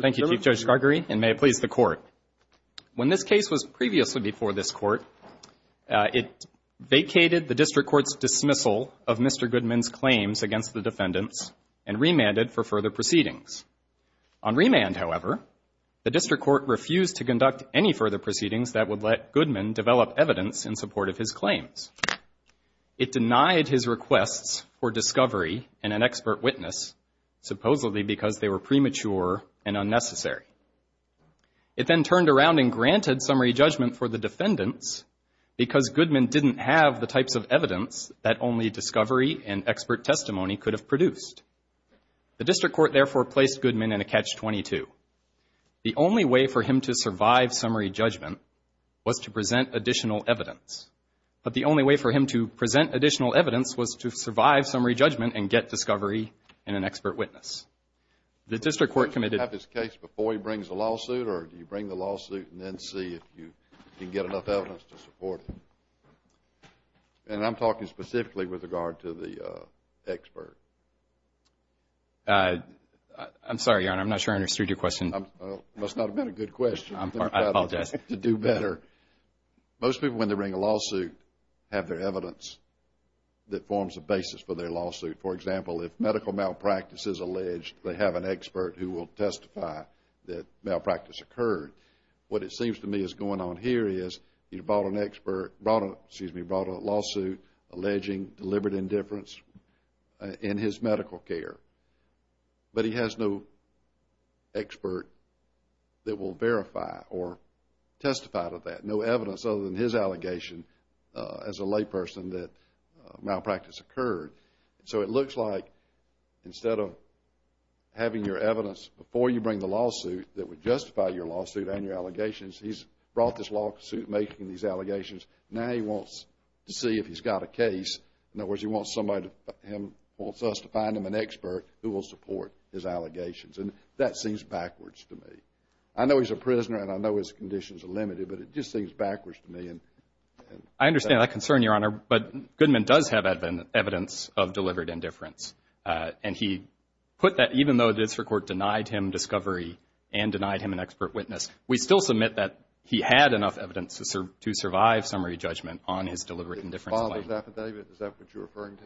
Thank you, Chief Judge Gargory, and may it please the Court. When this case was previously before this Court, it vacated the District Court's dismissal of Mr. Goodman's claims against the defendants and remanded for further proceedings. On remand, however, the District Court refused to conduct any further proceedings that would let Goodman develop evidence in support of his claims. It denied his requests for discovery and an expert witness, supposedly because they were premature and unnecessary. It then turned around and granted summary judgment for the defendants because Goodman didn't have the types of evidence that only discovery and expert testimony could have produced. The District Court, therefore, placed Goodman in a catch-22. The only way for him to survive summary judgment was to present additional evidence. But the only way for him to present additional evidence was to survive summary judgment and get discovery and an expert witness. The District Court committed... Mr. Goodman, do you have his case before he brings a lawsuit or do you bring the lawsuit and then see if you can get enough evidence to support him? And I'm talking specifically with regard to the expert. I'm sorry, Your Honor, I'm not sure I understood your question. It must not have been a good question. To do better. Most people, when they bring a lawsuit, have their evidence that forms the basis for their lawsuit. For example, if medical malpractice is alleged, they have an expert who will testify that malpractice occurred. What it seems to me is going on here is he brought a lawsuit alleging deliberate indifference in his medical care, but he has no expert that will verify or testify to that, no evidence other than his allegation as a layperson that malpractice occurred. So it looks like instead of having your evidence before you bring the lawsuit that would justify your lawsuit and your allegations, he's brought this lawsuit making these allegations. Now he wants to see if he's got a case. In other words, he wants us to find him an expert who will support his allegations. And that seems backwards to me. I know he's a prisoner and I know his conditions are limited, but it just seems backwards to me. I understand that concern, Your Honor, but Goodman does have evidence of deliberate indifference. And he put that, even though the district court denied him discovery and denied him an expert witness, we still submit that he had enough evidence to survive summary judgment on his deliberate indifference claim. Did he file his affidavit? Is that what you're referring to?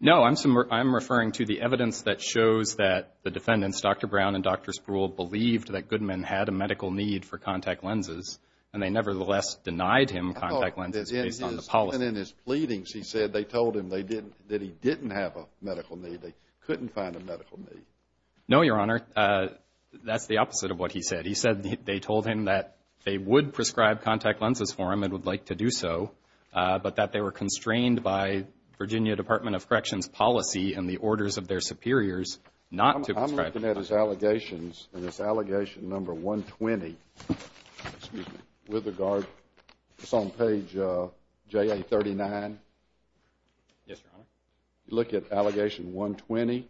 No, I'm referring to the evidence that shows that the defendants, Dr. Brown and Dr. Spruill, believed that Goodman had a medical need for contact lenses and they nevertheless denied him contact lenses based on the policy. I thought that in his pleadings he said they told him that he didn't have a medical need, they couldn't find a medical need. No, Your Honor. That's the opposite of what he said. He said they told him that they would prescribe contact lenses for him and would like to do so, but that they were constrained by Virginia Department of Corrections policy and the orders of their superiors not to prescribe contact lenses. I'm looking at his allegations and it's allegation number 120. Excuse me. With regard, it's on page JA39. Yes, Your Honor. Look at allegation 120.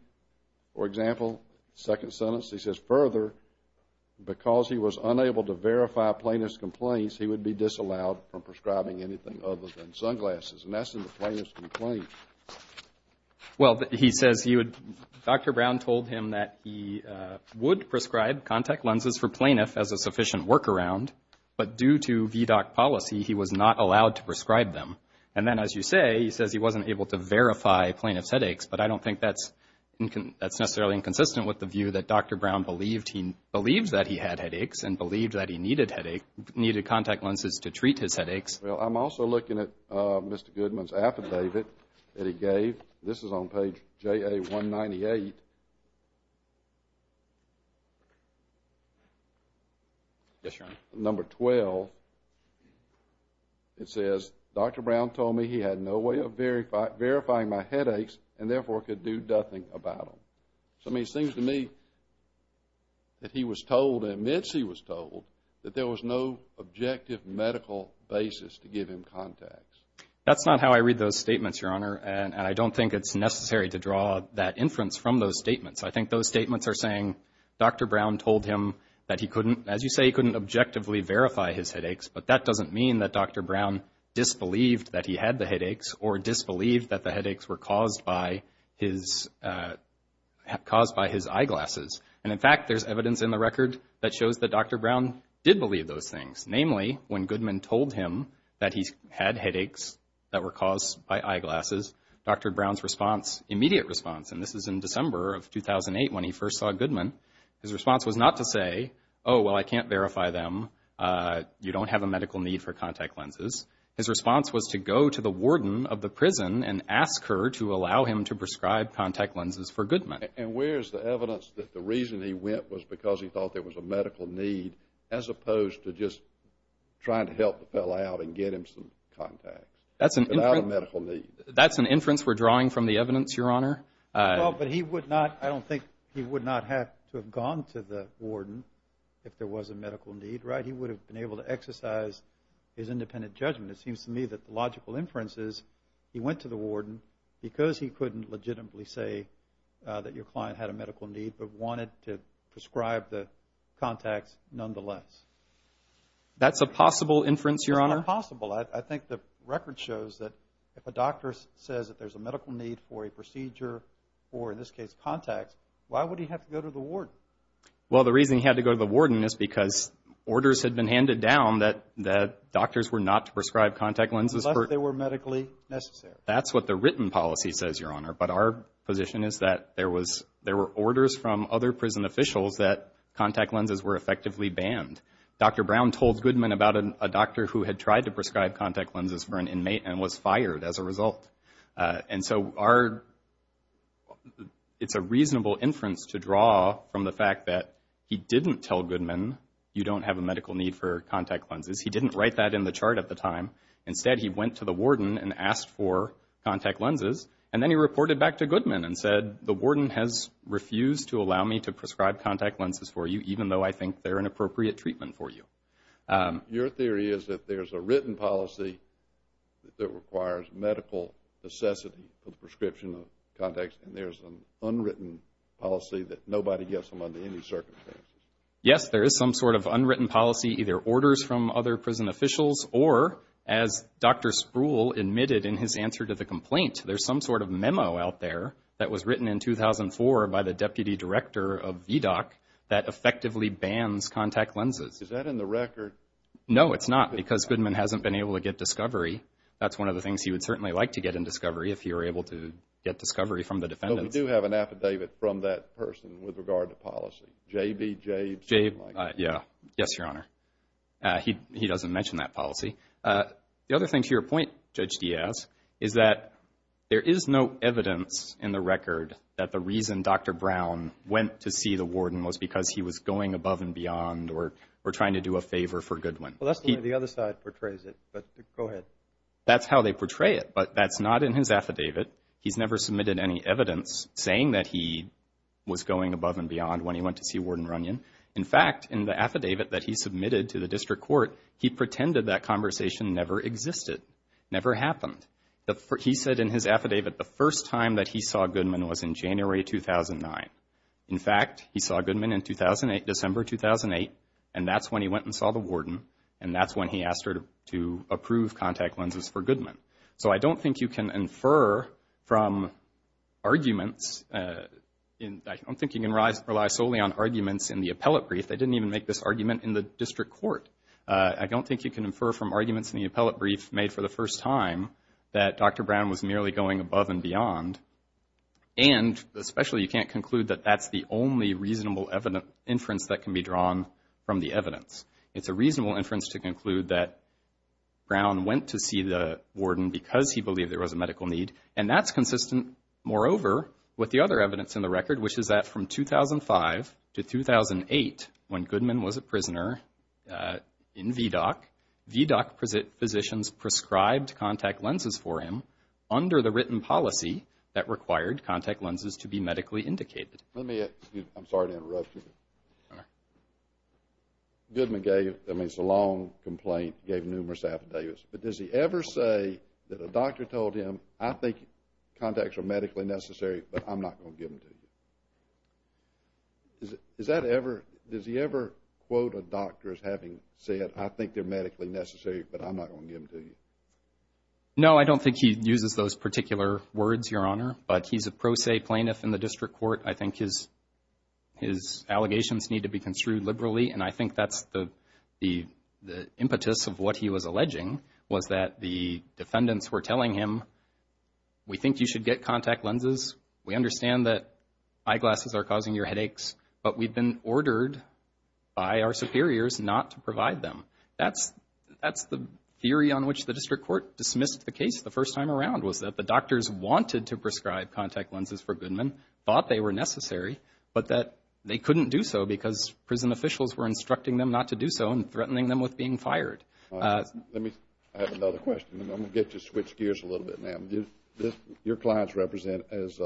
For example, second sentence, he says, further, because he was unable to verify plaintiff's complaints, he would be disallowed from prescribing anything other than sunglasses. And that's in the plaintiff's complaint. Well, he says Dr. Brown told him that he would prescribe contact lenses for plaintiff as a sufficient workaround, but due to VDOC policy he was not allowed to prescribe them. And then, as you say, he says he wasn't able to verify plaintiff's headaches, but I don't think that's necessarily inconsistent with the view that Dr. Brown believed that he had headaches and believed that he needed contact lenses to treat his headaches. Well, I'm also looking at Mr. Goodman's affidavit that he gave. This is on page JA198. Yes, Your Honor. Number 12. It says, Dr. Brown told me he had no way of verifying my headaches and therefore could do nothing about them. So it seems to me that he was told and admits he was told that there was no objective medical basis to give him contacts. That's not how I read those statements, Your Honor, and I don't think it's necessary to draw that inference from those statements. I think those statements are saying Dr. Brown told him that he couldn't, as you say, he couldn't objectively verify his headaches, but that doesn't mean that Dr. Brown disbelieved that he had the headaches or disbelieved that the headaches were caused by his eyeglasses. And, in fact, there's evidence in the record that shows that Dr. Brown did believe those things. Namely, when Goodman told him that he had headaches that were caused by eyeglasses, Dr. Brown's response, immediate response, and this is in December of 2008 when he first saw Goodman, his response was not to say, oh, well, I can't verify them. You don't have a medical need for contact lenses. His response was to go to the warden of the prison and ask her to allow him to prescribe contact lenses for Goodman. And where is the evidence that the reason he went was because he thought there was a medical need as opposed to just trying to help the fellow out and get him some contacts without a medical need? That's an inference we're drawing from the evidence, Your Honor. Well, but he would not, I don't think he would not have to have gone to the warden if there was a medical need, right? He would have been able to exercise his independent judgment. It seems to me that the logical inference is he went to the warden because he couldn't legitimately say that your client had a medical need but wanted to prescribe the contacts nonetheless. That's a possible inference, Your Honor. It's not possible. I think the record shows that if a doctor says that there's a medical need for a procedure, or in this case contacts, why would he have to go to the warden? Well, the reason he had to go to the warden is because orders had been handed down that doctors were not to prescribe contact lenses. Unless they were medically necessary. That's what the written policy says, Your Honor, but our position is that there were orders from other prison officials that contact lenses were effectively banned. Dr. Brown told Goodman about a doctor who had tried to prescribe contact lenses for an inmate and was fired as a result. And so it's a reasonable inference to draw from the fact that he didn't tell Goodman you don't have a medical need for contact lenses. He didn't write that in the chart at the time. Instead, he went to the warden and asked for contact lenses, and then he reported back to Goodman and said, the warden has refused to allow me to prescribe contact lenses for you, even though I think they're an appropriate treatment for you. Your theory is that there's a written policy that requires medical necessity for the prescription of contacts, and there's an unwritten policy that nobody gets them under any circumstances. Yes, there is some sort of unwritten policy, either orders from other prison officials or, as Dr. Spruill admitted in his answer to the complaint, there's some sort of memo out there that was written in 2004 by the deputy director of VDOC that effectively bans contact lenses. Is that in the record? No, it's not, because Goodman hasn't been able to get discovery. That's one of the things he would certainly like to get in discovery if he were able to get discovery from the defendants. But we do have an affidavit from that person with regard to policy, J.B. Jades? Yes, Your Honor. He doesn't mention that policy. The other thing to your point, Judge Diaz, is that there is no evidence in the record that the reason Dr. Brown went to see the warden was because he was going above and beyond or trying to do a favor for Goodwin. Well, that's the way the other side portrays it, but go ahead. That's how they portray it, but that's not in his affidavit. He's never submitted any evidence saying that he was going above and beyond when he went to see Warden Runyon. In fact, in the affidavit that he submitted to the district court, he pretended that conversation never existed, never happened. He said in his affidavit the first time that he saw Goodman was in January 2009. In fact, he saw Goodman in December 2008, and that's when he went and saw the warden, and that's when he asked her to approve contact lenses for Goodman. So I don't think you can infer from arguments. I don't think you can rely solely on arguments in the appellate brief. They didn't even make this argument in the district court. I don't think you can infer from arguments in the appellate brief made for the first time that Dr. Brown was merely going above and beyond, and especially you can't conclude that that's the only reasonable inference that can be drawn from the evidence. It's a reasonable inference to conclude that Brown went to see the warden because he believed there was a medical need, and that's consistent, moreover, with the other evidence in the record, which is that from 2005 to 2008, when Goodman was a prisoner in VDOC, VDOC physicians prescribed contact lenses for him under the written policy that required contact lenses to be medically indicated. I'm sorry to interrupt you. Goodman gave, I mean, it's a long complaint, gave numerous affidavits, but does he ever say that a doctor told him, I think contacts are medically necessary, but I'm not going to give them to you? Does he ever quote a doctor as having said, I think they're medically necessary, but I'm not going to give them to you? No, I don't think he uses those particular words, Your Honor, but he's a pro se plaintiff in the district court. I think his allegations need to be construed liberally, and I think that's the impetus of what he was alleging was that the defendants were telling him, we think you should get contact lenses. We understand that eyeglasses are causing your headaches, but we've been ordered by our superiors not to provide them. That's the theory on which the district court dismissed the case the first time around was that the doctors wanted to prescribe contact lenses for Goodman, thought they were necessary, but that they couldn't do so because prison officials were instructing them not to do so and threatening them with being fired. I have another question, and I'm going to get you to switch gears a little bit now. Your clients represent as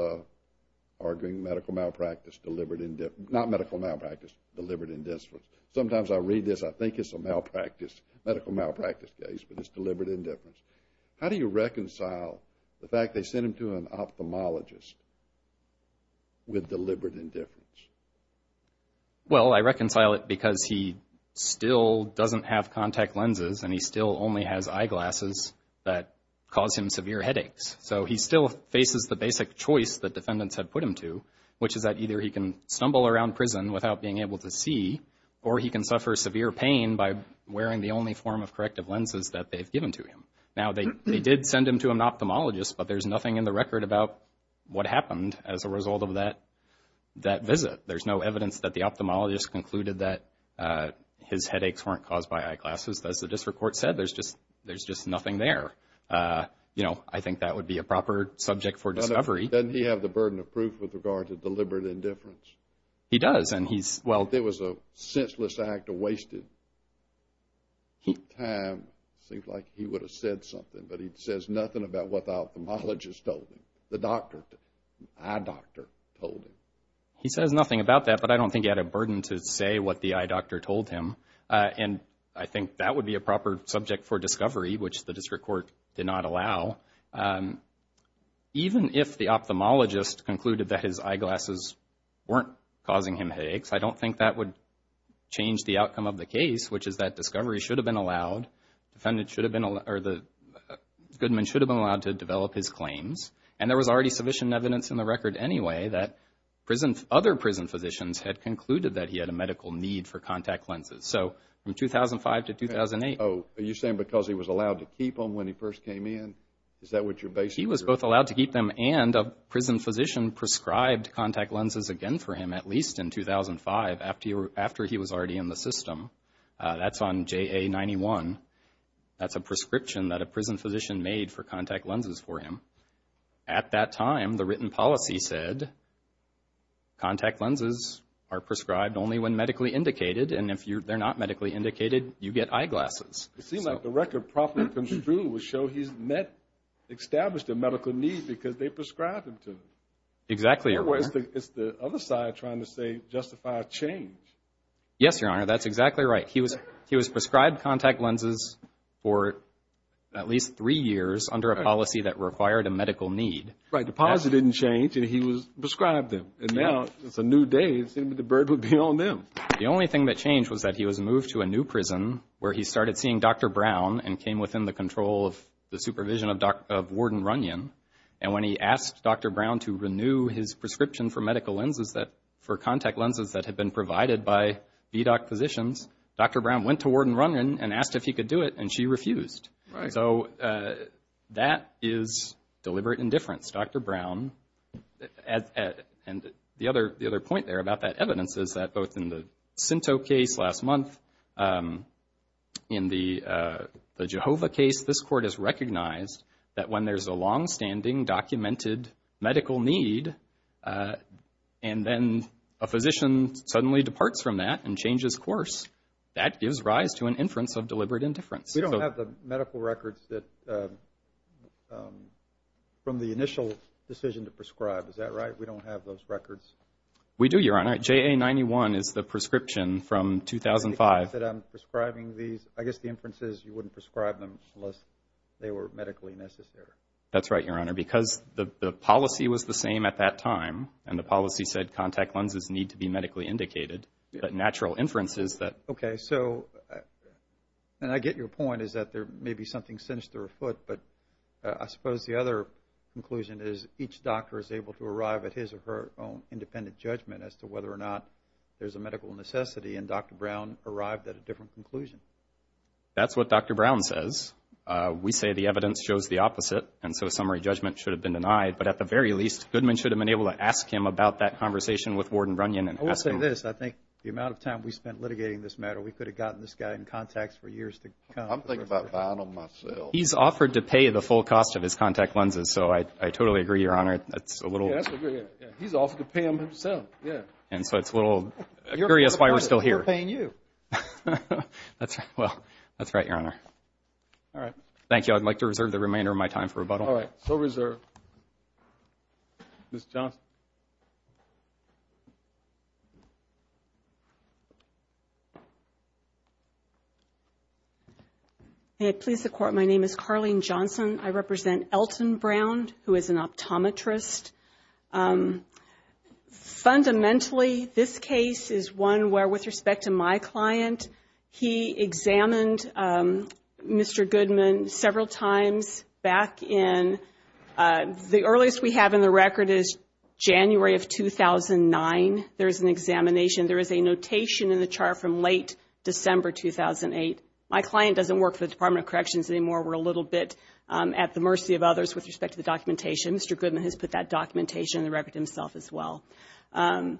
arguing medical malpractice deliberate indifference, not medical malpractice, deliberate indifference. Sometimes I read this, I think it's a medical malpractice case, but it's deliberate indifference. How do you reconcile the fact they sent him to an ophthalmologist with deliberate indifference? Well, I reconcile it because he still doesn't have contact lenses and he still only has eyeglasses that cause him severe headaches. So he still faces the basic choice that defendants have put him to, which is that either he can stumble around prison without being able to see or he can suffer severe pain by wearing the only form of corrective lenses that they've given to him. Now, they did send him to an ophthalmologist, but there's nothing in the record about what happened as a result of that visit. There's no evidence that the ophthalmologist concluded that his headaches weren't caused by eyeglasses. As the district court said, there's just nothing there. You know, I think that would be a proper subject for discovery. Doesn't he have the burden of proof with regard to deliberate indifference? He does, and he's – Well, there was a senseless act of wasted time. It seems like he would have said something, but he says nothing about what the ophthalmologist told him, the eye doctor told him. He says nothing about that, but I don't think he had a burden to say what the eye doctor told him. And I think that would be a proper subject for discovery, which the district court did not allow. Even if the ophthalmologist concluded that his eyeglasses weren't causing him headaches, I don't think that would change the outcome of the case, which is that discovery should have been allowed, the defendant should have been – or the good man should have been allowed to develop his claims. And there was already sufficient evidence in the record anyway that other prison physicians had concluded that he had a medical need for contact lenses. So from 2005 to 2008 – Oh, are you saying because he was allowed to keep them when he first came in? Is that what your basis is? He was both allowed to keep them and a prison physician prescribed contact lenses again for him, at least in 2005, after he was already in the system. That's on JA-91. That's a prescription that a prison physician made for contact lenses for him. At that time, the written policy said contact lenses are prescribed only when medically indicated, and if they're not medically indicated, you get eyeglasses. It seems like the record properly construed would show he's established a medical need because they prescribed him to them. Exactly, Your Honor. It's the other side trying to say justify a change. Yes, Your Honor, that's exactly right. He was prescribed contact lenses for at least three years under a policy that required a medical need. Right, the policy didn't change, and he was prescribed them. And now it's a new day. It seemed like the bird would be on them. The only thing that changed was that he was moved to a new prison where he started seeing Dr. Brown and came within the control of the supervision of Warden Runyon. And when he asked Dr. Brown to renew his prescription for medical lenses for contact lenses that had been provided by VDOC physicians, Dr. Brown went to Warden Runyon and asked if he could do it, and she refused. So that is deliberate indifference, Dr. Brown. And the other point there about that evidence is that both in the Sinto case last month, in the Jehovah case, this Court has recognized that when there's a longstanding documented medical need and then a physician suddenly departs from that and changes course, that gives rise to an inference of deliberate indifference. We don't have the medical records from the initial decision to prescribe. Is that right? We don't have those records? We do, Your Honor. JA-91 is the prescription from 2005. I'm prescribing these. I guess the inference is you wouldn't prescribe them unless they were medically necessary. That's right, Your Honor, because the policy was the same at that time, and the policy said contact lenses need to be medically indicated. The natural inference is that... Okay, so, and I get your point is that there may be something sinister afoot, but I suppose the other conclusion is each doctor is able to arrive at his or her own independent judgment as to whether or not there's a medical necessity, and Dr. Brown arrived at a different conclusion. That's what Dr. Brown says. We say the evidence shows the opposite, and so summary judgment should have been denied. But at the very least, Goodman should have been able to ask him about that conversation with Warden Runyon. I will say this. I think the amount of time we spent litigating this matter, we could have gotten this guy in contact for years to come. I'm thinking about buying them myself. He's offered to pay the full cost of his contact lenses, so I totally agree, Your Honor. He's offered to pay them himself, yeah. And so it's a little curious why we're still here. You're paying you. That's right, Your Honor. Thank you. I'd like to reserve the remainder of my time for rebuttal. All right, so reserved. Ms. Johnson. May it please the Court, my name is Carlene Johnson. I represent Elton Brown, who is an optometrist. Fundamentally, this case is one where, with respect to my client, he examined Mr. Goodman several times back in, the earliest we have in the record is January of 2009. There is an examination, there is a notation in the chart from late December 2008. My client doesn't work for the Department of Corrections anymore. We're a little bit at the mercy of others with respect to the documentation. Mr. Goodman has put that documentation in the record himself as well. Optometrist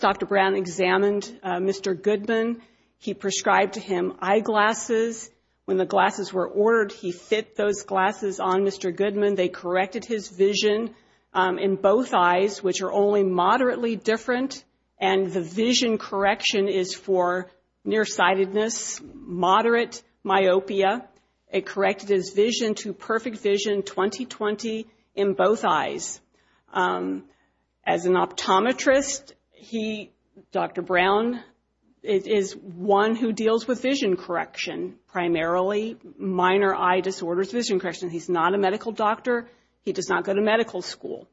Dr. Brown examined Mr. Goodman. He prescribed him eyeglasses. When the glasses were ordered, he fit those glasses on Mr. Goodman. They corrected his vision in both eyes, which are only moderately different, and the vision correction is for nearsightedness, moderate myopia. It corrected his vision to perfect vision, 20-20 in both eyes. As an optometrist, Dr. Brown is one who deals with vision correction primarily, minor eye disorders, vision correction. He's not a medical doctor. He does not go to medical school.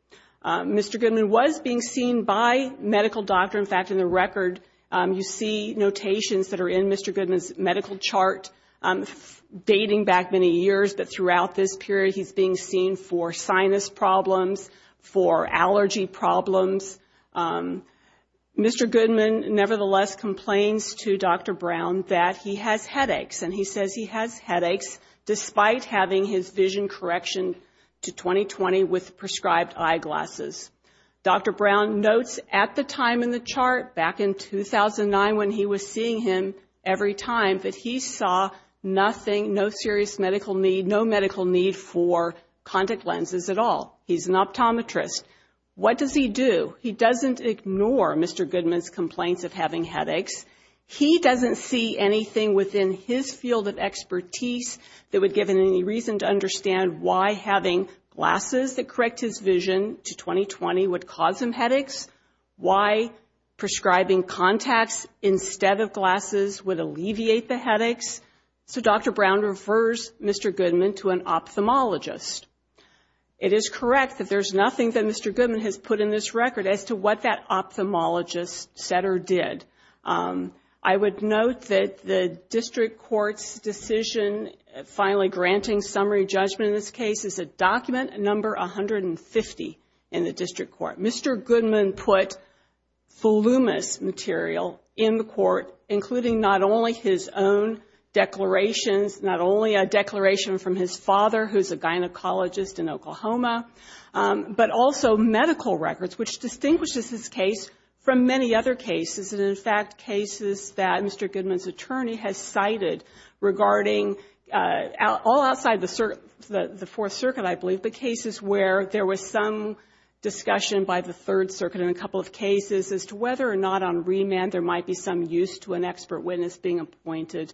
Mr. Goodman was being seen by a medical doctor. In fact, in the record, you see notations that are in Mr. Goodman's medical chart, dating back many years, but throughout this period he's being seen for sinus problems, for allergy problems. Mr. Goodman nevertheless complains to Dr. Brown that he has headaches, and he says he has headaches despite having his vision correction to 20-20 with prescribed eyeglasses. Dr. Brown notes at the time in the chart, back in 2009 when he was seeing him every time, that he saw nothing, no serious medical need, no medical need for contact lenses at all. As an optometrist, what does he do? He doesn't ignore Mr. Goodman's complaints of having headaches. He doesn't see anything within his field of expertise that would give him any reason to understand why having glasses that correct his vision to 20-20 would cause him headaches, why prescribing contacts instead of glasses would alleviate the headaches. So Dr. Brown refers Mr. Goodman to an ophthalmologist. It is correct that there's nothing that Mr. Goodman has put in this record as to what that ophthalmologist said or did. I would note that the district court's decision finally granting summary judgment in this case is a document number 150 in the district court. Mr. Goodman put voluminous material in the court, including not only his own declarations, not only a declaration from his father, who's a gynecologist in Oklahoma, but also medical records, which distinguishes this case from many other cases. And in fact, cases that Mr. Goodman's attorney has cited regarding all outside the Fourth Circuit, I believe, but cases where there was some discussion by the Third Circuit in a couple of cases as to whether or not on remand there might be some use to an expert witness being appointed.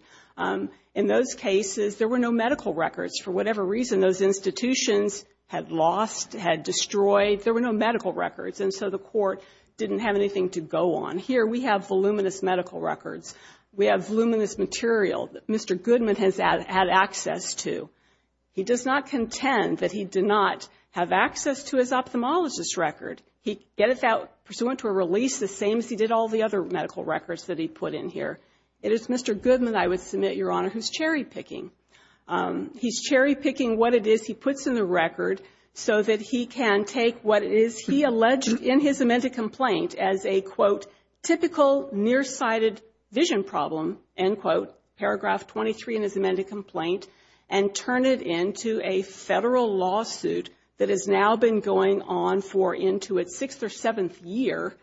In those cases, there were no medical records. For whatever reason, those institutions had lost, had destroyed, there were no medical records. And so the court didn't have anything to go on. Here we have voluminous medical records. We have voluminous material that Mr. Goodman has had access to. He does not contend that he did not have access to his ophthalmologist's record. He gets out pursuant to a release the same as he did all the other medical records that he put in here. It is Mr. Goodman, I would submit, Your Honor, who's cherry-picking. He's cherry-picking what it is he puts in the record so that he can take what it is he alleged in his amended complaint as a, quote, typical nearsighted vision problem, end quote, paragraph 23 in his amended complaint, and turn it into a Federal lawsuit that has now been going on for into its sixth or seventh year.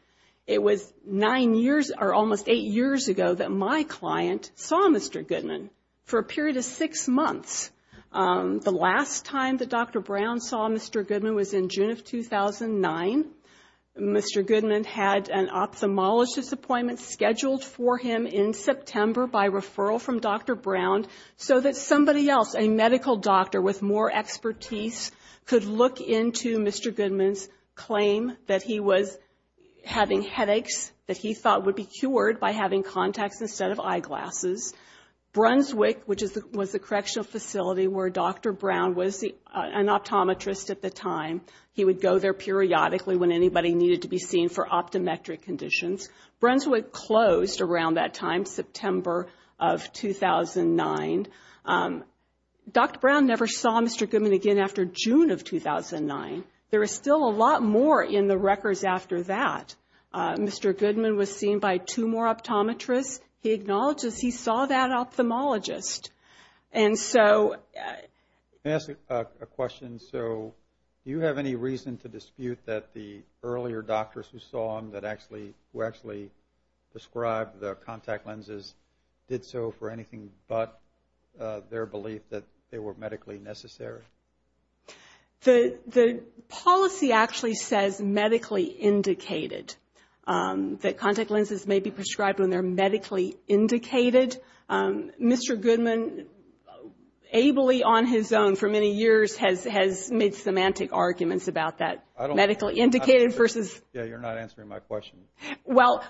It was nine years, or almost eight years ago that my client saw Mr. Goodman for a period of six months. The last time that Dr. Brown saw Mr. Goodman was in June of 2009. Mr. Goodman had an ophthalmologist's appointment scheduled for him in September by referral from Dr. Brown so that somebody else, a medical doctor with more expertise, could look into Mr. Goodman's claim that he was having headaches that he thought would be cured by having contacts instead of eyeglasses. Brunswick, which was the correctional facility where Dr. Brown was an optometrist at the time, he would go there periodically when anybody needed to be seen for optometric conditions. Brunswick closed around that time, September of 2009. Dr. Brown never saw Mr. Goodman again after June of 2009. There is still a lot more in the records after that. Mr. Goodman was seen by two more optometrists. He acknowledges he saw that ophthalmologist. And so... Can I ask a question? Do you have any reason to dispute that the earlier doctors who saw him, who actually described the contact lenses, did so for anything but their belief that they were medically necessary? The policy actually says medically indicated, that contact lenses may be prescribed when they're medically indicated. Mr. Goodman, ably on his own for many years, has made semantic arguments about that, medically indicated versus... Yeah, you're not answering my question. Well,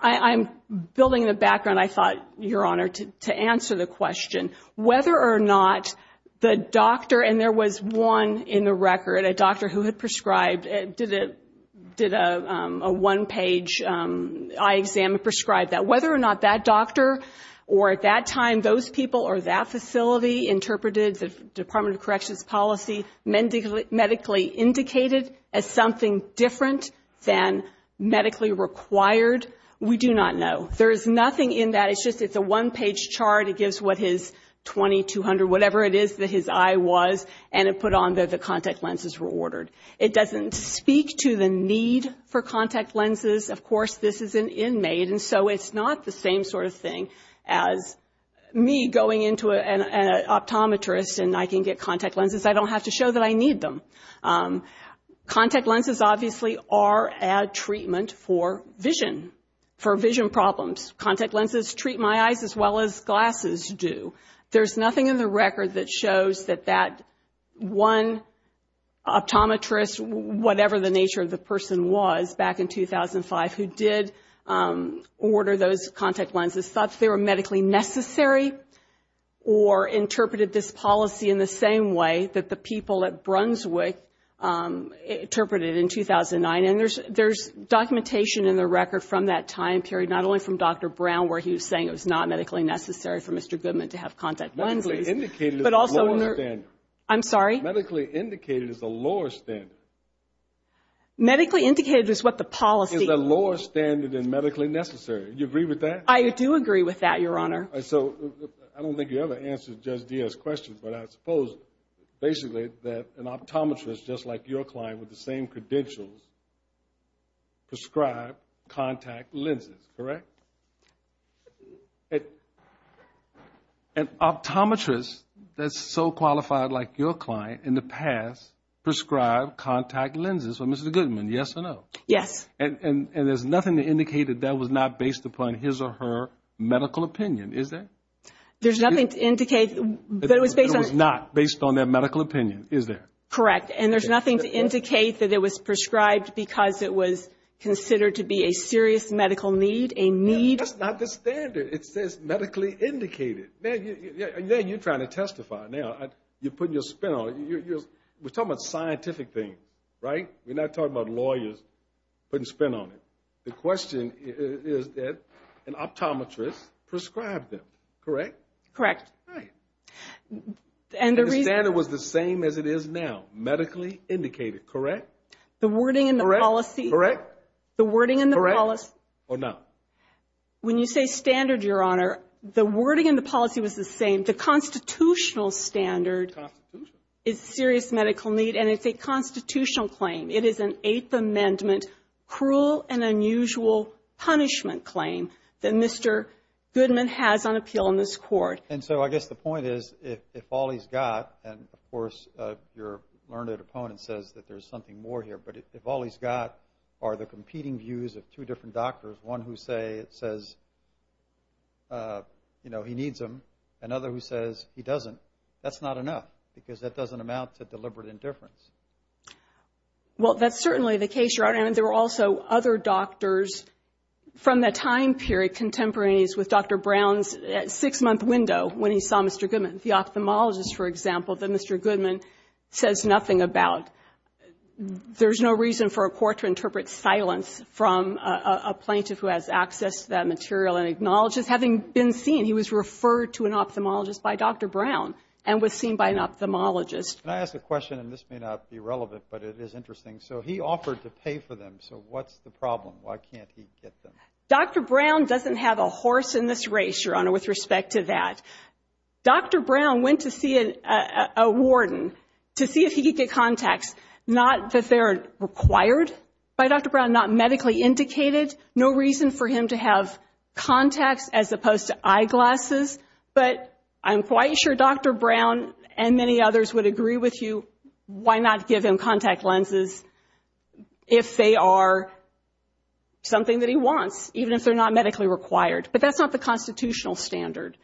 I'm building the background, I thought, Your Honor, to answer the question. Whether or not the doctor, and there was one in the record, a doctor who had prescribed, did a one-page eye exam and prescribed that. Whether or not that doctor or at that time those people or that facility interpreted the Department of Corrections policy medically indicated as something different than medically required, we do not know. There is nothing in that, it's just a one-page chart, it gives what his 20, 200, whatever it is that his eye was, and it put on the contact lenses were ordered. It doesn't speak to the need for contact lenses, of course, this is an inmate, and so it's not the same sort of thing as me going into an optometrist and I can get contact lenses, I don't have to show that I need them. Contact lenses obviously are a treatment for vision, for vision problems. Contact lenses treat my eyes as well as glasses do. There's nothing in the record that shows that that one optometrist, whatever the nature of the person was back in 2005, who did order those contact lenses, thought they were medically necessary or interpreted this policy in the same way that the people at Brunswick interpreted in 2009. And there's documentation in the record from that time period, not only from Dr. Brown, where he was saying it was not medically necessary for Mr. Goodman to have contact lenses. But also, I'm sorry? Medically indicated is the lower standard. Medically indicated is what the policy... Is the lower standard than medically necessary. Do you agree with that? I do agree with that, Your Honor. I don't think you ever answered Judge Diaz's question, but I suppose basically that an optometrist, just like your client with the same credentials, prescribed contact lenses, correct? Correct. An optometrist that's so qualified like your client in the past prescribed contact lenses for Mr. Goodman, yes or no? Yes. And there's nothing to indicate that that was not based upon his or her medical opinion, is there? There's nothing to indicate that it was based on... That's not the standard. It says medically indicated. You're trying to testify now. You're putting your spin on it. We're talking about scientific things, right? We're not talking about lawyers putting spin on it. The question is that an optometrist prescribed them, correct? Correct. The standard was the same as it is now, medically indicated, correct? Correct. When you say standard, Your Honor, the wording in the policy was the same. The constitutional standard is serious medical need, and it's a constitutional claim. It is an Eighth Amendment cruel and unusual punishment claim that Mr. Goodman has on appeal in this court. Well, I guess the point is if all he's got, and of course your learned opponent says that there's something more here, but if all he's got are the competing views of two different doctors, one who says, you know, he needs them, another who says he doesn't, that's not enough, because that doesn't amount to deliberate indifference. Well, that's certainly the case, Your Honor. And there were also other doctors from the time period contemporaneous with Dr. Brown's six-month window when he saw Mr. Goodman, the ophthalmologist, for example, that Mr. Goodman says nothing about. There's no reason for a court to interpret silence from a plaintiff who has access to that material and acknowledges, having been seen, he was referred to an ophthalmologist by Dr. Brown and was seen by an ophthalmologist. Can I ask a question? And this may not be relevant, but it is interesting. So he offered to pay for them. So what's the problem? Why can't he get them? Dr. Brown doesn't have a horse in this race, Your Honor, with respect to that. Dr. Brown went to see a warden to see if he could get contacts, not that they're required by Dr. Brown, not medically indicated, no reason for him to have contacts as opposed to eyeglasses. But I'm quite sure Dr. Brown and many others would agree with you. Why not give him contact lenses if they are something that he wants, even if they're not medically required? But that's not the constitutional standard.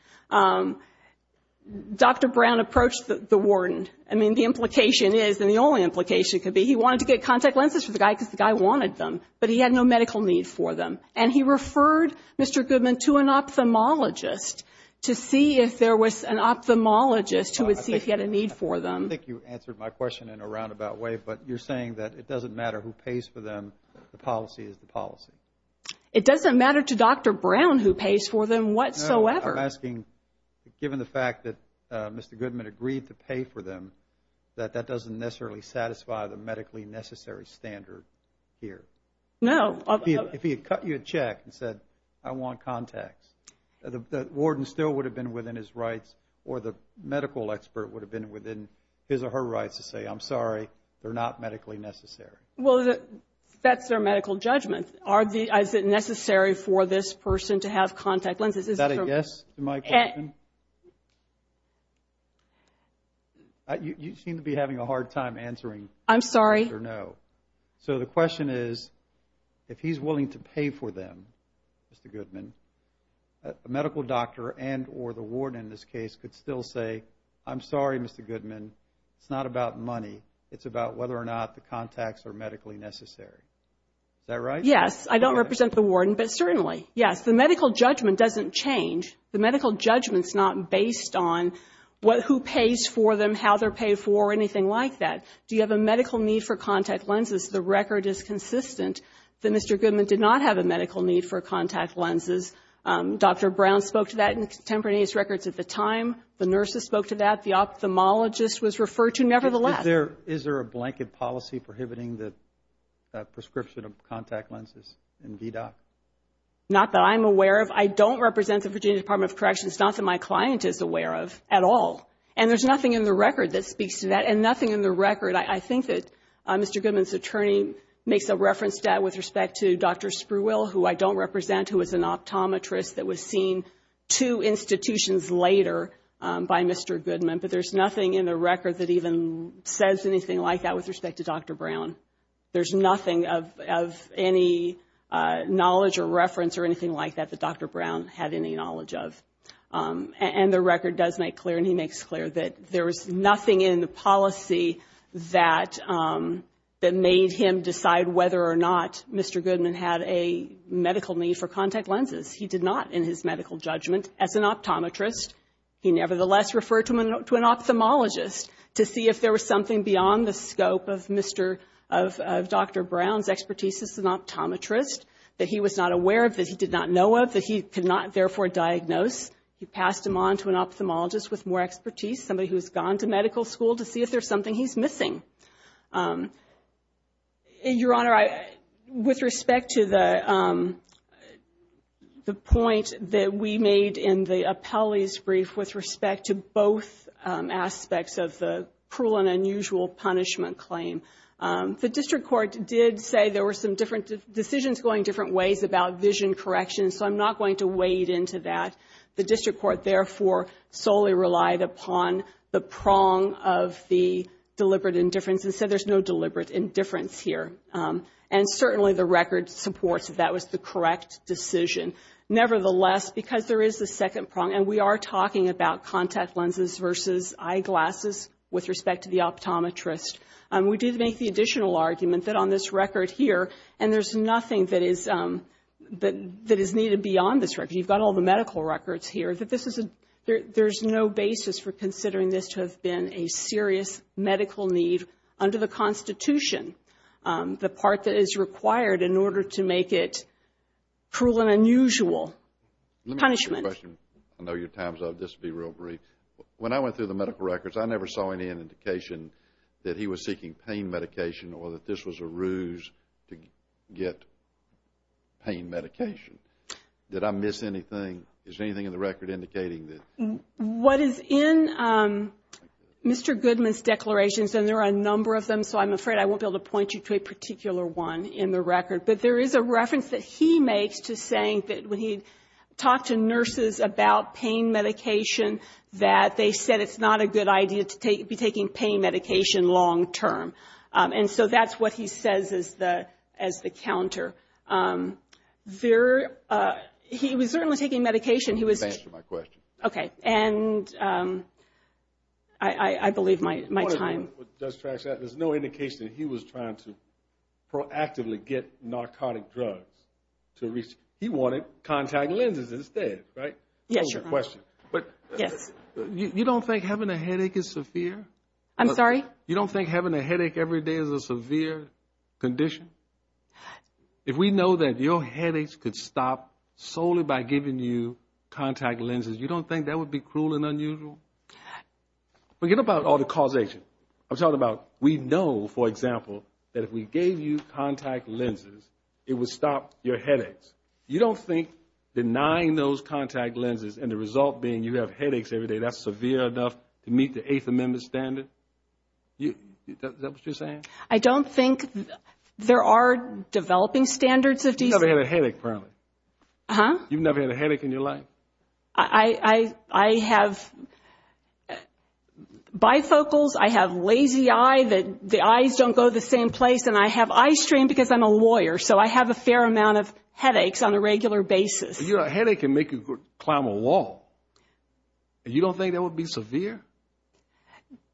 Dr. Brown approached the warden. I mean, the implication is, and the only implication could be he wanted to get contact lenses for the guy because the guy wanted them, but he had no medical need for them. And he referred Mr. Goodman to an ophthalmologist to see if there was an ophthalmologist who would see if he had a need for them. I think you answered my question in a roundabout way, but you're saying that it doesn't matter who pays for them, the policy is the policy. It doesn't matter to Dr. Brown who pays for them whatsoever. No, I'm asking, given the fact that Mr. Goodman agreed to pay for them, that that doesn't necessarily satisfy the medically necessary standard here. No. If he had cut you a check and said, I want contacts, the warden still would have been within his rights or the medical expert would have been within his or her rights to say, I'm sorry, they're not medically necessary. Well, that's their medical judgment. Is it necessary for this person to have contact lenses? Is that a yes to my question? Yes. You seem to be having a hard time answering yes or no. I'm sorry. So the question is, if he's willing to pay for them, Mr. Goodman, the medical doctor and or the warden in this case could still say, I'm sorry, Mr. Goodman, it's not about money. It's about whether or not the contacts are medically necessary. Is that right? Yes. I don't represent the warden, but certainly, yes. The medical judgment doesn't change. The medical judgment is not based on who pays for them, how they're paid for, or anything like that. Do you have a medical need for contact lenses? The record is consistent that Mr. Goodman did not have a medical need for contact lenses. Dr. Brown spoke to that in the contemporaneous records at the time. The nurses spoke to that. The ophthalmologist was referred to, nevertheless. Is there a blanket policy prohibiting the prescription of contact lenses in VDOC? Not that I'm aware of. I don't represent the Virginia Department of Corrections. It's not that my client is aware of at all. And there's nothing in the record that speaks to that, and nothing in the record, I think, that Mr. Goodman's attorney makes a reference to that with respect to Dr. Spruill, who I don't represent, who was an optometrist that was seen two institutions later by Mr. Goodman. But there's nothing in the record that even says anything like that with respect to Dr. Brown. There's nothing of any knowledge or reference or anything like that that Dr. Brown had any knowledge of. And the record does make clear, and he makes clear that there was nothing in the policy that made him decide whether or not Mr. Goodman had a medical need for contact lenses. He did not in his medical judgment as an optometrist. He nevertheless referred to an ophthalmologist to see if there was something beyond the scope of Dr. Brown's expertise as an optometrist that he was not aware of, that he did not know of, that he could not therefore diagnose. He passed him on to an ophthalmologist with more expertise, somebody who's gone to medical school to see if there's something he's missing. Your Honor, with respect to the point that we made in the appellee's brief with respect to both aspects of the cruel and unusual punishment claim, the district court did say there were some different decisions going different ways about vision correction, so I'm not going to wade into that. The district court therefore solely relied upon the prong of the deliberate indifference and said there's no deliberate indifference here. And certainly the record supports that that was the correct decision. Nevertheless, because there is a second prong, and we are talking about contact lenses versus eyeglasses with respect to the optometrist, we did make the additional argument that on this record here, and there's nothing that is needed beyond this record. You've got all the medical records here. There's no basis for considering this to have been a serious medical need under the Constitution, the part that is required in order to make it cruel and unusual punishment. Let me ask you a question. I know your time's up. This will be real brief. When I went through the medical records, I never saw any indication that he was seeking pain medication or that this was a ruse to get pain medication. Did I miss anything? Is there anything in the record indicating that? What is in Mr. Goodman's declarations, and there are a number of them, so I'm afraid I won't be able to point you to a particular one in the record, but there is a reference that he makes to saying that when he talked to nurses about pain medication, that they said it's not a good idea to be taking pain medication long term. And so that's what he says as the counter. He was certainly taking medication. Answer my question. Okay. I believe my time. There's no indication that he was trying to proactively get narcotic drugs. He wanted contact lenses instead, right? Yes, Your Honor. You don't think having a headache is severe? I'm sorry? You don't think having a headache every day is a severe condition? If we know that your headaches could stop solely by giving you contact lenses, you don't think that would be cruel and unusual? Forget about all the causation. I'm talking about we know, for example, that if we gave you contact lenses, it would stop your headaches. You don't think denying those contact lenses and the result being you have headaches every day, that's severe enough to meet the Eighth Amendment standard? Is that what you're saying? I don't think there are developing standards of decency. You've never had a headache, apparently? Huh? You've never had a headache in your life? I have bifocals, I have lazy eye, the eyes don't go the same place, and I have eye strain because I'm a lawyer, so I have a fair amount of headaches on a regular basis. A headache can make you climb a wall. You don't think that would be severe?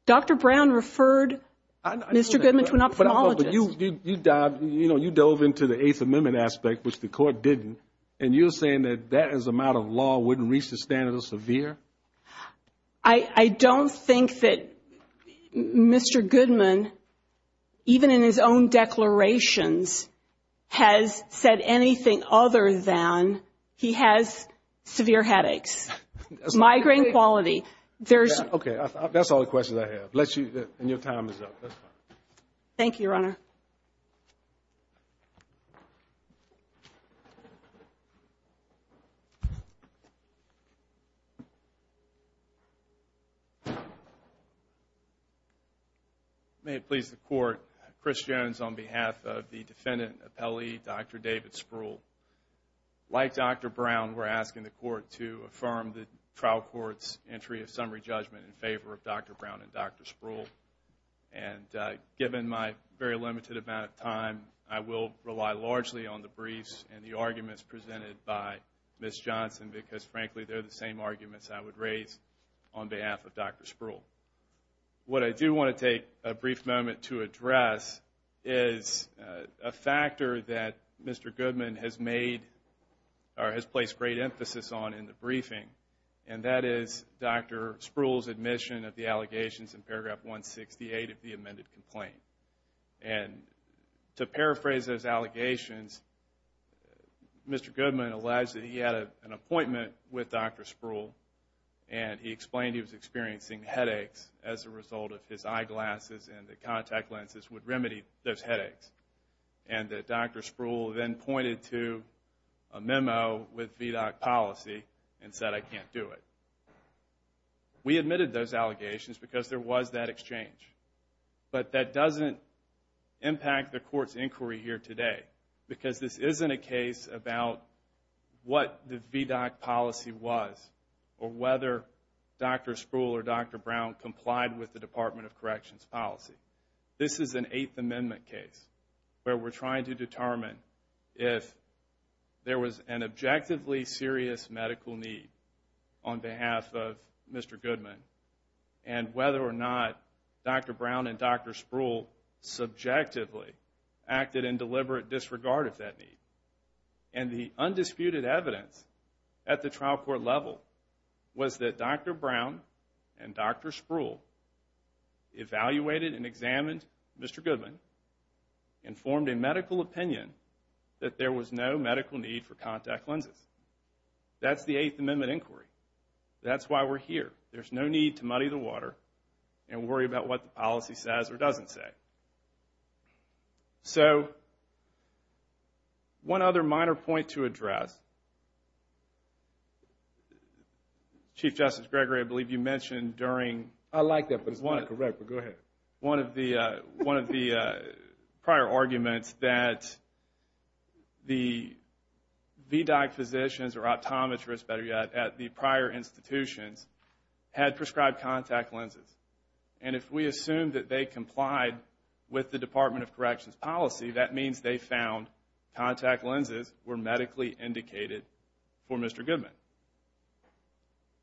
Dr. Brown referred Mr. Goodman to an ophthalmologist. You dove into the Eighth Amendment aspect, which the court didn't, and you're saying that that amount of law wouldn't reach the standard of severe? I don't think that Mr. Goodman, even in his own declarations, has said anything other than he has severe headaches. Migraine quality. Okay, that's all the questions I have, and your time is up. Thank you, Your Honor. May it please the Court, Chris Jones on behalf of the defendant appellee, Dr. David Spruill. Like Dr. Brown, we're asking the Court to affirm the trial court's entry of summary judgment in favor of Dr. Brown and Dr. Spruill. And given my very limited amount of time, I will rely largely on the briefs and the arguments presented by Ms. Johnson because, frankly, they're the same arguments I would raise on behalf of Dr. Spruill. What I do want to take a brief moment to address is a factor that Mr. Goodman has made or has placed great emphasis on in the briefing, and that is Dr. Spruill's admission of the allegations in paragraph 168 of the amended complaint. And to paraphrase those allegations, Mr. Goodman alleged that he had an appointment with Dr. Spruill and he explained he was experiencing headaches as a result of his eyeglasses and the contact lenses would remedy those headaches. And that Dr. Spruill then pointed to a memo with VDOC policy and said, I can't do it. We admitted those allegations because there was that exchange. But that doesn't impact the court's inquiry here today because this isn't a case about what the VDOC policy was or whether Dr. Spruill or Dr. Brown complied with the Department of Corrections policy. This is an Eighth Amendment case where we're trying to determine if there was an objectively serious medical need on behalf of Mr. Goodman and whether or not Dr. Brown and Dr. Spruill subjectively acted in deliberate disregard of that need. And the undisputed evidence at the trial court level was that Dr. Brown and Dr. Spruill evaluated and examined Mr. Goodman and formed a medical opinion that there was no medical need for contact lenses. That's the Eighth Amendment inquiry. That's why we're here. There's no need to muddy the water and worry about what the policy says or doesn't say. So one other minor point to address. Chief Justice Gregory, I believe you mentioned during... I like that, but it's not correct, but go ahead. One of the prior arguments that the VDOC physicians or optometrists, better yet, at the prior institutions had prescribed contact lenses. And if we assume that they complied with the Department of Corrections policy, that means they found contact lenses were medically indicated for Mr. Goodman.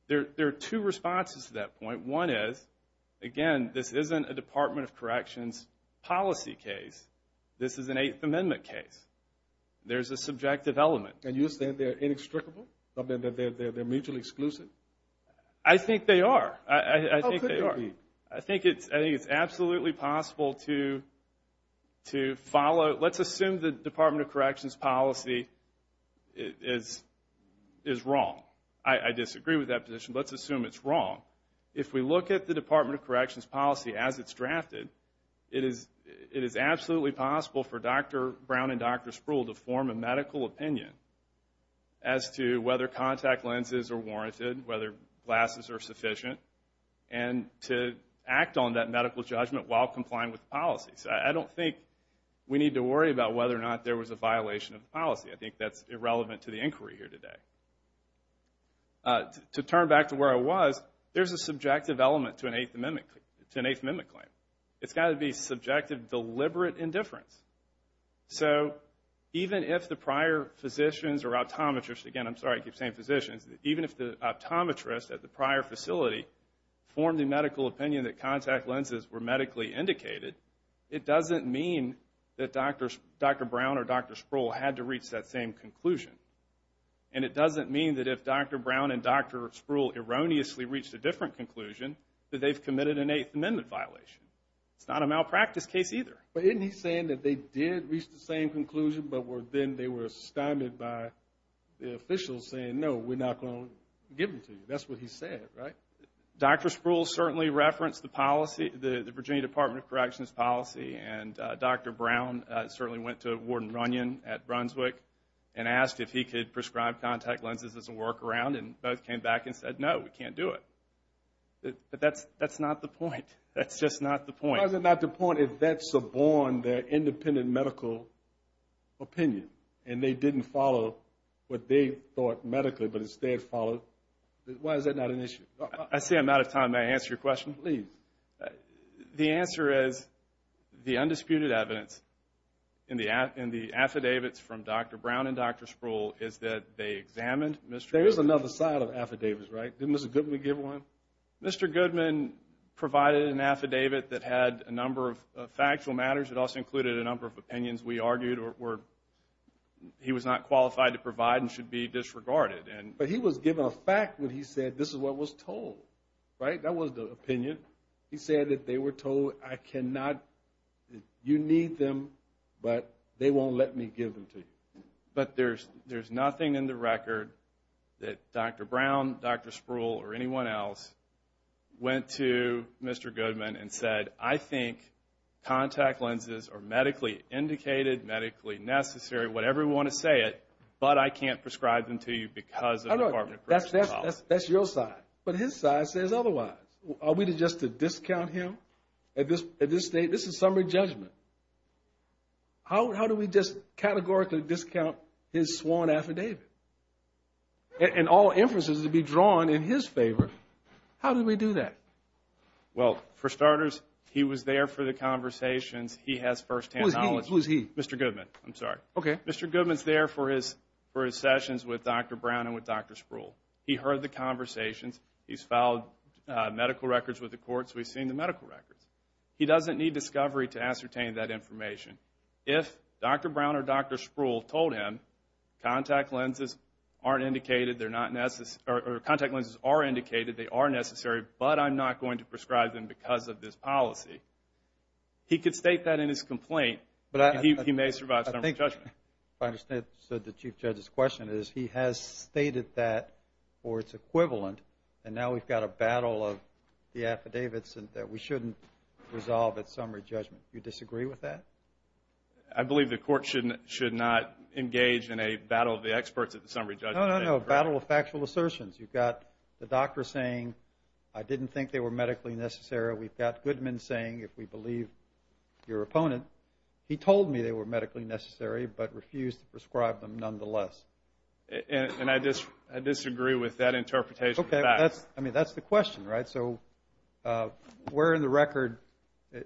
There are two responses to that point. One is, again, this isn't a Department of Corrections policy case. This is an Eighth Amendment case. There's a subjective element. And you're saying they're inextricable, that they're mutually exclusive? I think they are. How could they be? I think it's absolutely possible to follow. Let's assume the Department of Corrections policy is wrong. I disagree with that position, but let's assume it's wrong. It is absolutely possible for Dr. Brown and Dr. Sproul to form a medical opinion as to whether contact lenses are warranted, whether glasses are sufficient, and to act on that medical judgment while complying with the policy. So I don't think we need to worry about whether or not there was a violation of the policy. I think that's irrelevant to the inquiry here today. To turn back to where I was, there's a subjective element to an Eighth Amendment claim. It's got to be subjective, deliberate indifference. So even if the prior physicians or optometrists, again, I'm sorry, I keep saying physicians, even if the optometrists at the prior facility formed a medical opinion that contact lenses were medically indicated, it doesn't mean that Dr. Brown or Dr. Sproul had to reach that same conclusion. And it doesn't mean that if Dr. Brown and Dr. Sproul erroneously reached a different conclusion, that they've committed an Eighth Amendment violation. It's not a malpractice case either. But isn't he saying that they did reach the same conclusion, but then they were stymied by the officials saying, no, we're not going to give them to you. That's what he said, right? Dr. Sproul certainly referenced the Virginia Department of Corrections policy, and Dr. Brown certainly went to Warden Runyon at Brunswick and asked if he could prescribe contact lenses as a workaround, and both came back and said, no, we can't do it. But that's not the point. That's just not the point. It's not the point if vets abhorred their independent medical opinion and they didn't follow what they thought medically, but instead followed. Why is that not an issue? I see I'm out of time. May I answer your question? Please. The answer is the undisputed evidence in the affidavits from Dr. Brown and Dr. Sproul is that they examined Mr. Goodman. There is another side of affidavits, right? Didn't Mr. Goodman give one? Mr. Goodman provided an affidavit that had a number of factual matters. It also included a number of opinions we argued where he was not qualified to provide and should be disregarded. But he was given a fact when he said this is what was told, right? That was the opinion. He said that they were told you need them, but they won't let me give them to you. But there's nothing in the record that Dr. Brown, Dr. Sproul, or anyone else went to Mr. Goodman and said, I think contact lenses are medically indicated, medically necessary, whatever you want to say it, but I can't prescribe them to you because of the Department of Corrections policy. That's your side. But his side says otherwise. Are we just to discount him at this stage? This is summary judgment. How do we just categorically discount his sworn affidavit? And all emphasis would be drawn in his favor. How do we do that? Well, for starters, he was there for the conversations. He has firsthand knowledge. Who is he? Mr. Goodman, I'm sorry. Okay. Mr. Goodman is there for his sessions with Dr. Brown and with Dr. Sproul. He heard the conversations. He's filed medical records with the courts. We've seen the medical records. He doesn't need discovery to ascertain that information. If Dr. Brown or Dr. Sproul told him contact lenses aren't indicated, they're not necessary, or contact lenses are indicated, they are necessary, but I'm not going to prescribe them because of this policy, he could state that in his complaint and he may survive summary judgment. I understand the Chief Judge's question is he has stated that for its equivalent and now we've got a battle of the affidavits that we shouldn't resolve at summary judgment. Do you disagree with that? I believe the court should not engage in a battle of the experts at the summary judgment. No, no, no, battle of factual assertions. You've got the doctor saying, I didn't think they were medically necessary. We've got Goodman saying, if we believe your opponent, he told me they were medically necessary but refused to prescribe them nonetheless. And I disagree with that interpretation. Okay, that's the question, right? So where in the record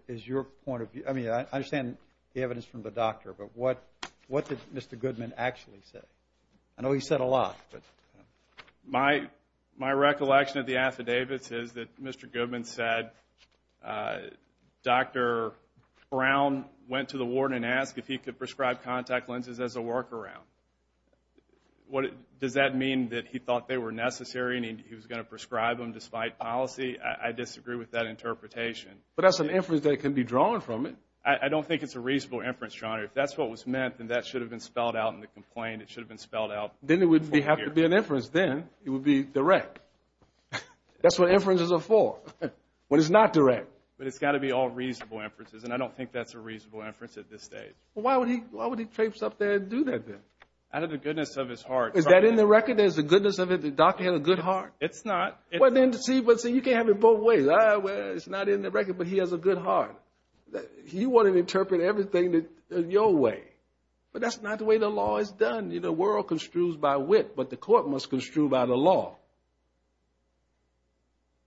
is your point of view? I mean, I understand the evidence from the doctor, but what did Mr. Goodman actually say? I know he said a lot. My recollection of the affidavits is that Mr. Goodman said Dr. Brown went to the warden and asked if he could prescribe contact lenses as a workaround. Does that mean that he thought they were necessary and he was going to prescribe them despite policy? I disagree with that interpretation. But that's an inference that can be drawn from it. I don't think it's a reasonable inference, John. If that's what was meant, then that should have been spelled out in the complaint. Then it would have to be an inference then. It would be direct. That's what inferences are for, when it's not direct. But it's got to be all reasonable inferences, and I don't think that's a reasonable inference at this stage. Well, why would he trace up there and do that then? Out of the goodness of his heart. Is that in the record? There's the goodness of it, the doctor had a good heart? It's not. Well, then, see, you can't have it both ways. It's not in the record, but he has a good heart. He wanted to interpret everything in your way. But that's not the way the law is done. The world construes by wit, but the court must construe by the law.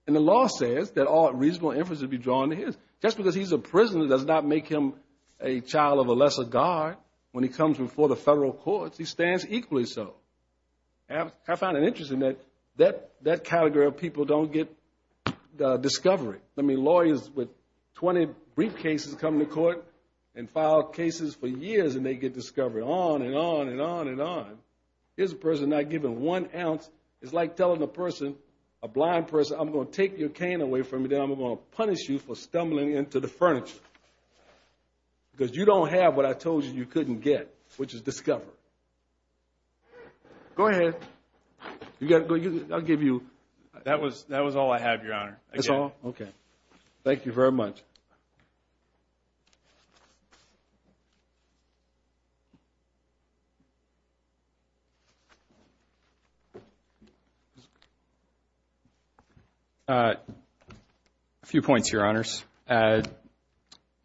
And the law says that all reasonable inference would be drawn to his. Just because he's a prisoner does not make him a child of a lesser God when he comes before the federal courts. He stands equally so. I found it interesting that that category of people don't get discovery. I mean, lawyers with 20 brief cases come to court and file cases for years and they get discovery. On and on and on and on. Here's a person not given one ounce. It's like telling a person, a blind person, I'm going to take your cane away from you, then I'm going to punish you for stumbling into the furniture. Because you don't have what I told you you couldn't get, which is discovery. Go ahead. I'll give you. That was all I had, Your Honor. That's all? Okay. Thank you very much. A few points, Your Honors.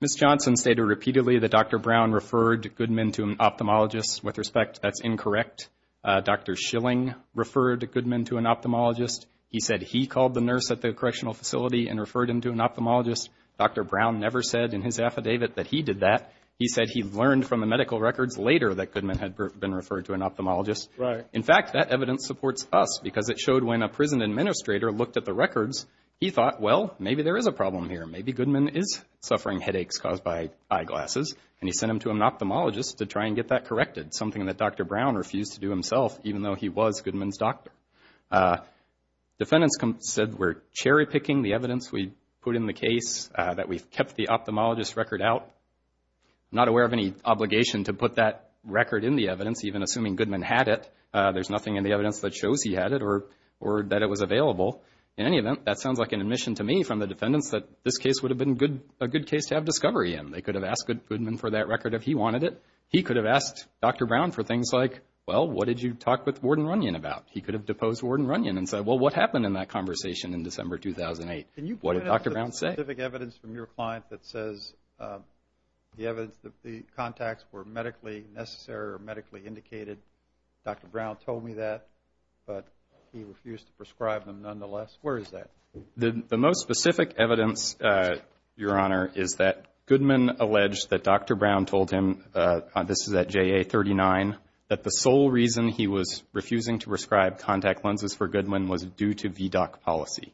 Ms. Johnson stated repeatedly that Dr. Brown referred Goodman to an ophthalmologist. With respect, that's incorrect. Dr. Schilling referred Goodman to an ophthalmologist. He said he called the nurse at the correctional facility and referred him to an ophthalmologist. Dr. Brown never said in his affidavit that he did that. He said he learned from the medical records later that Goodman had been referred to an ophthalmologist. In fact, that evidence supports us because it showed when a prison administrator looked at the records, he thought, well, maybe there is a problem here. Maybe Goodman is suffering headaches caused by eyeglasses. And he sent him to an ophthalmologist to try and get that corrected, something that Dr. Brown refused to do himself, even though he was Goodman's doctor. Defendants said we're cherry-picking the evidence we put in the case, that we've kept the ophthalmologist's record out. I'm not aware of any obligation to put that record in the evidence, even assuming Goodman had it. There's nothing in the evidence that shows he had it or that it was available. In any event, that sounds like an admission to me from the defendants that this case would have been a good case to have discovery in. They could have asked Goodman for that record if he wanted it. He could have asked Dr. Brown for things like, well, what did you talk with Warden Runyon about? He could have deposed Warden Runyon and said, well, what happened in that conversation in December 2008? What did Dr. Brown say? Can you point out the specific evidence from your client that says the evidence, the contacts were medically necessary or medically indicated? Dr. Brown told me that, but he refused to prescribe them nonetheless. Where is that? The most specific evidence, Your Honor, is that Goodman alleged that Dr. Brown told him, this is at JA39, that the sole reason he was refusing to prescribe contact lenses for Goodman was due to VDOC policy.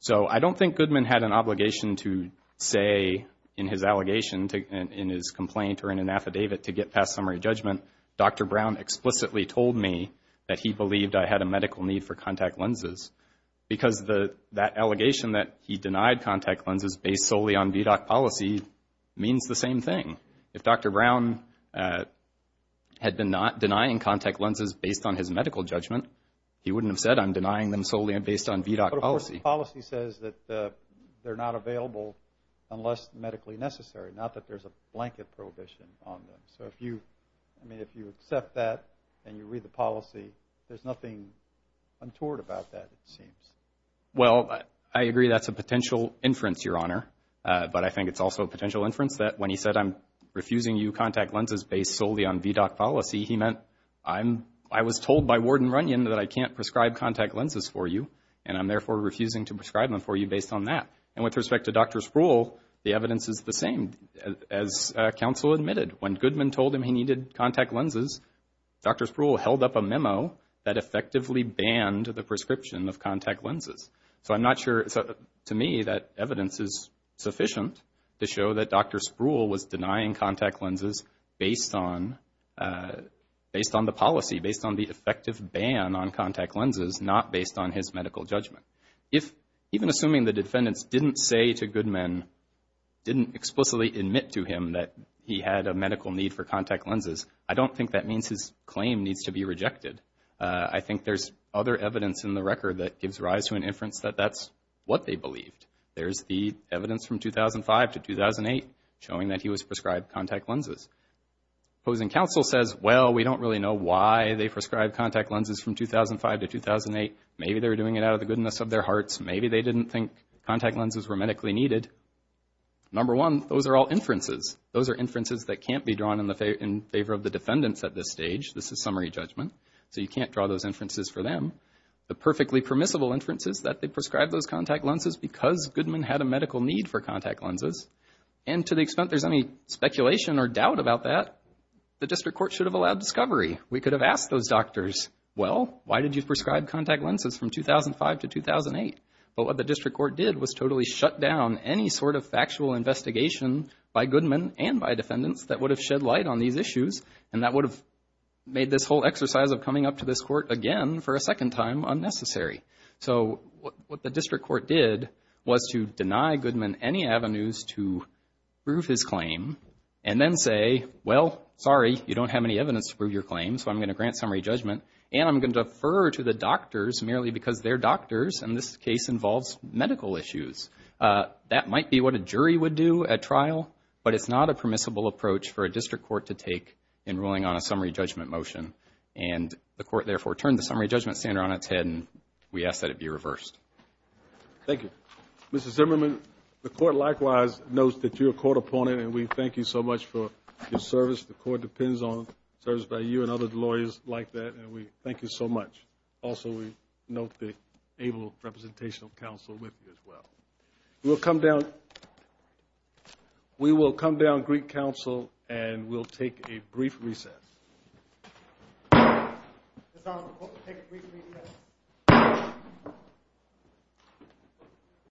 So I don't think Goodman had an obligation to say in his allegation, in his complaint or in an affidavit, to get past summary judgment, Dr. Brown explicitly told me that he believed I had a medical need for contact lenses because that allegation that he denied contact lenses based solely on VDOC policy means the same thing. If Dr. Brown had been not denying contact lenses based on his medical judgment, he wouldn't have said I'm denying them solely based on VDOC policy. But of course the policy says that they're not available unless medically necessary, not that there's a blanket prohibition on them. So if you accept that and you read the policy, there's nothing untoward about that, it seems. Well, I agree that's a potential inference, Your Honor, but I think it's also a potential inference that when he said I'm refusing you contact lenses based solely on VDOC policy, he meant I was told by Ward and Runyon that I can't prescribe contact lenses for you, and I'm therefore refusing to prescribe them for you based on that. And with respect to Dr. Sproul, the evidence is the same. As counsel admitted, when Goodman told him he needed contact lenses, Dr. Sproul held up a memo that effectively banned the prescription of contact lenses. So I'm not sure, to me, that evidence is sufficient to show that Dr. Sproul was denying contact lenses based on the policy, based on the effective ban on contact lenses, not based on his medical judgment. If even assuming the defendants didn't say to Goodman, didn't explicitly admit to him that he had a medical need for contact lenses, I don't think that means his claim needs to be rejected. I think there's other evidence in the record that gives rise to an inference that that's what they believed. There's the evidence from 2005 to 2008 showing that he was prescribed contact lenses. Opposing counsel says, well, we don't really know why they prescribed contact lenses from 2005 to 2008. Maybe they were doing it out of the goodness of their hearts. Maybe they didn't think contact lenses were medically needed. Number one, those are all inferences. Those are inferences that can't be drawn in favor of the defendants at this stage. This is summary judgment, so you can't draw those inferences for them. The perfectly permissible inference is that they prescribed those contact lenses because Goodman had a medical need for contact lenses. And to the extent there's any speculation or doubt about that, the district court should have allowed discovery. We could have asked those doctors, well, why did you prescribe contact lenses from 2005 to 2008? But what the district court did was totally shut down any sort of factual investigation by Goodman and by defendants that would have shed light on these issues and that would have made this whole exercise of coming up to this court again for a second time unnecessary. So what the district court did was to deny Goodman any avenues to prove his claim and then say, well, sorry, you don't have any evidence to prove your claim so I'm going to grant summary judgment and I'm going to defer to the doctors merely because they're doctors and this case involves medical issues. That might be what a jury would do at trial, but it's not a permissible approach for a district court to take in ruling on a summary judgment motion. And the court therefore turned the summary judgment standard on its head and we ask that it be reversed. Thank you. Mrs. Zimmerman, the court likewise notes that you're a court opponent and we thank you so much for your service. The court depends on service by you and other lawyers like that and we thank you so much. Also, we note the able representation of counsel with you as well. We'll come down. We will come down Greek Council and we'll take a brief recess.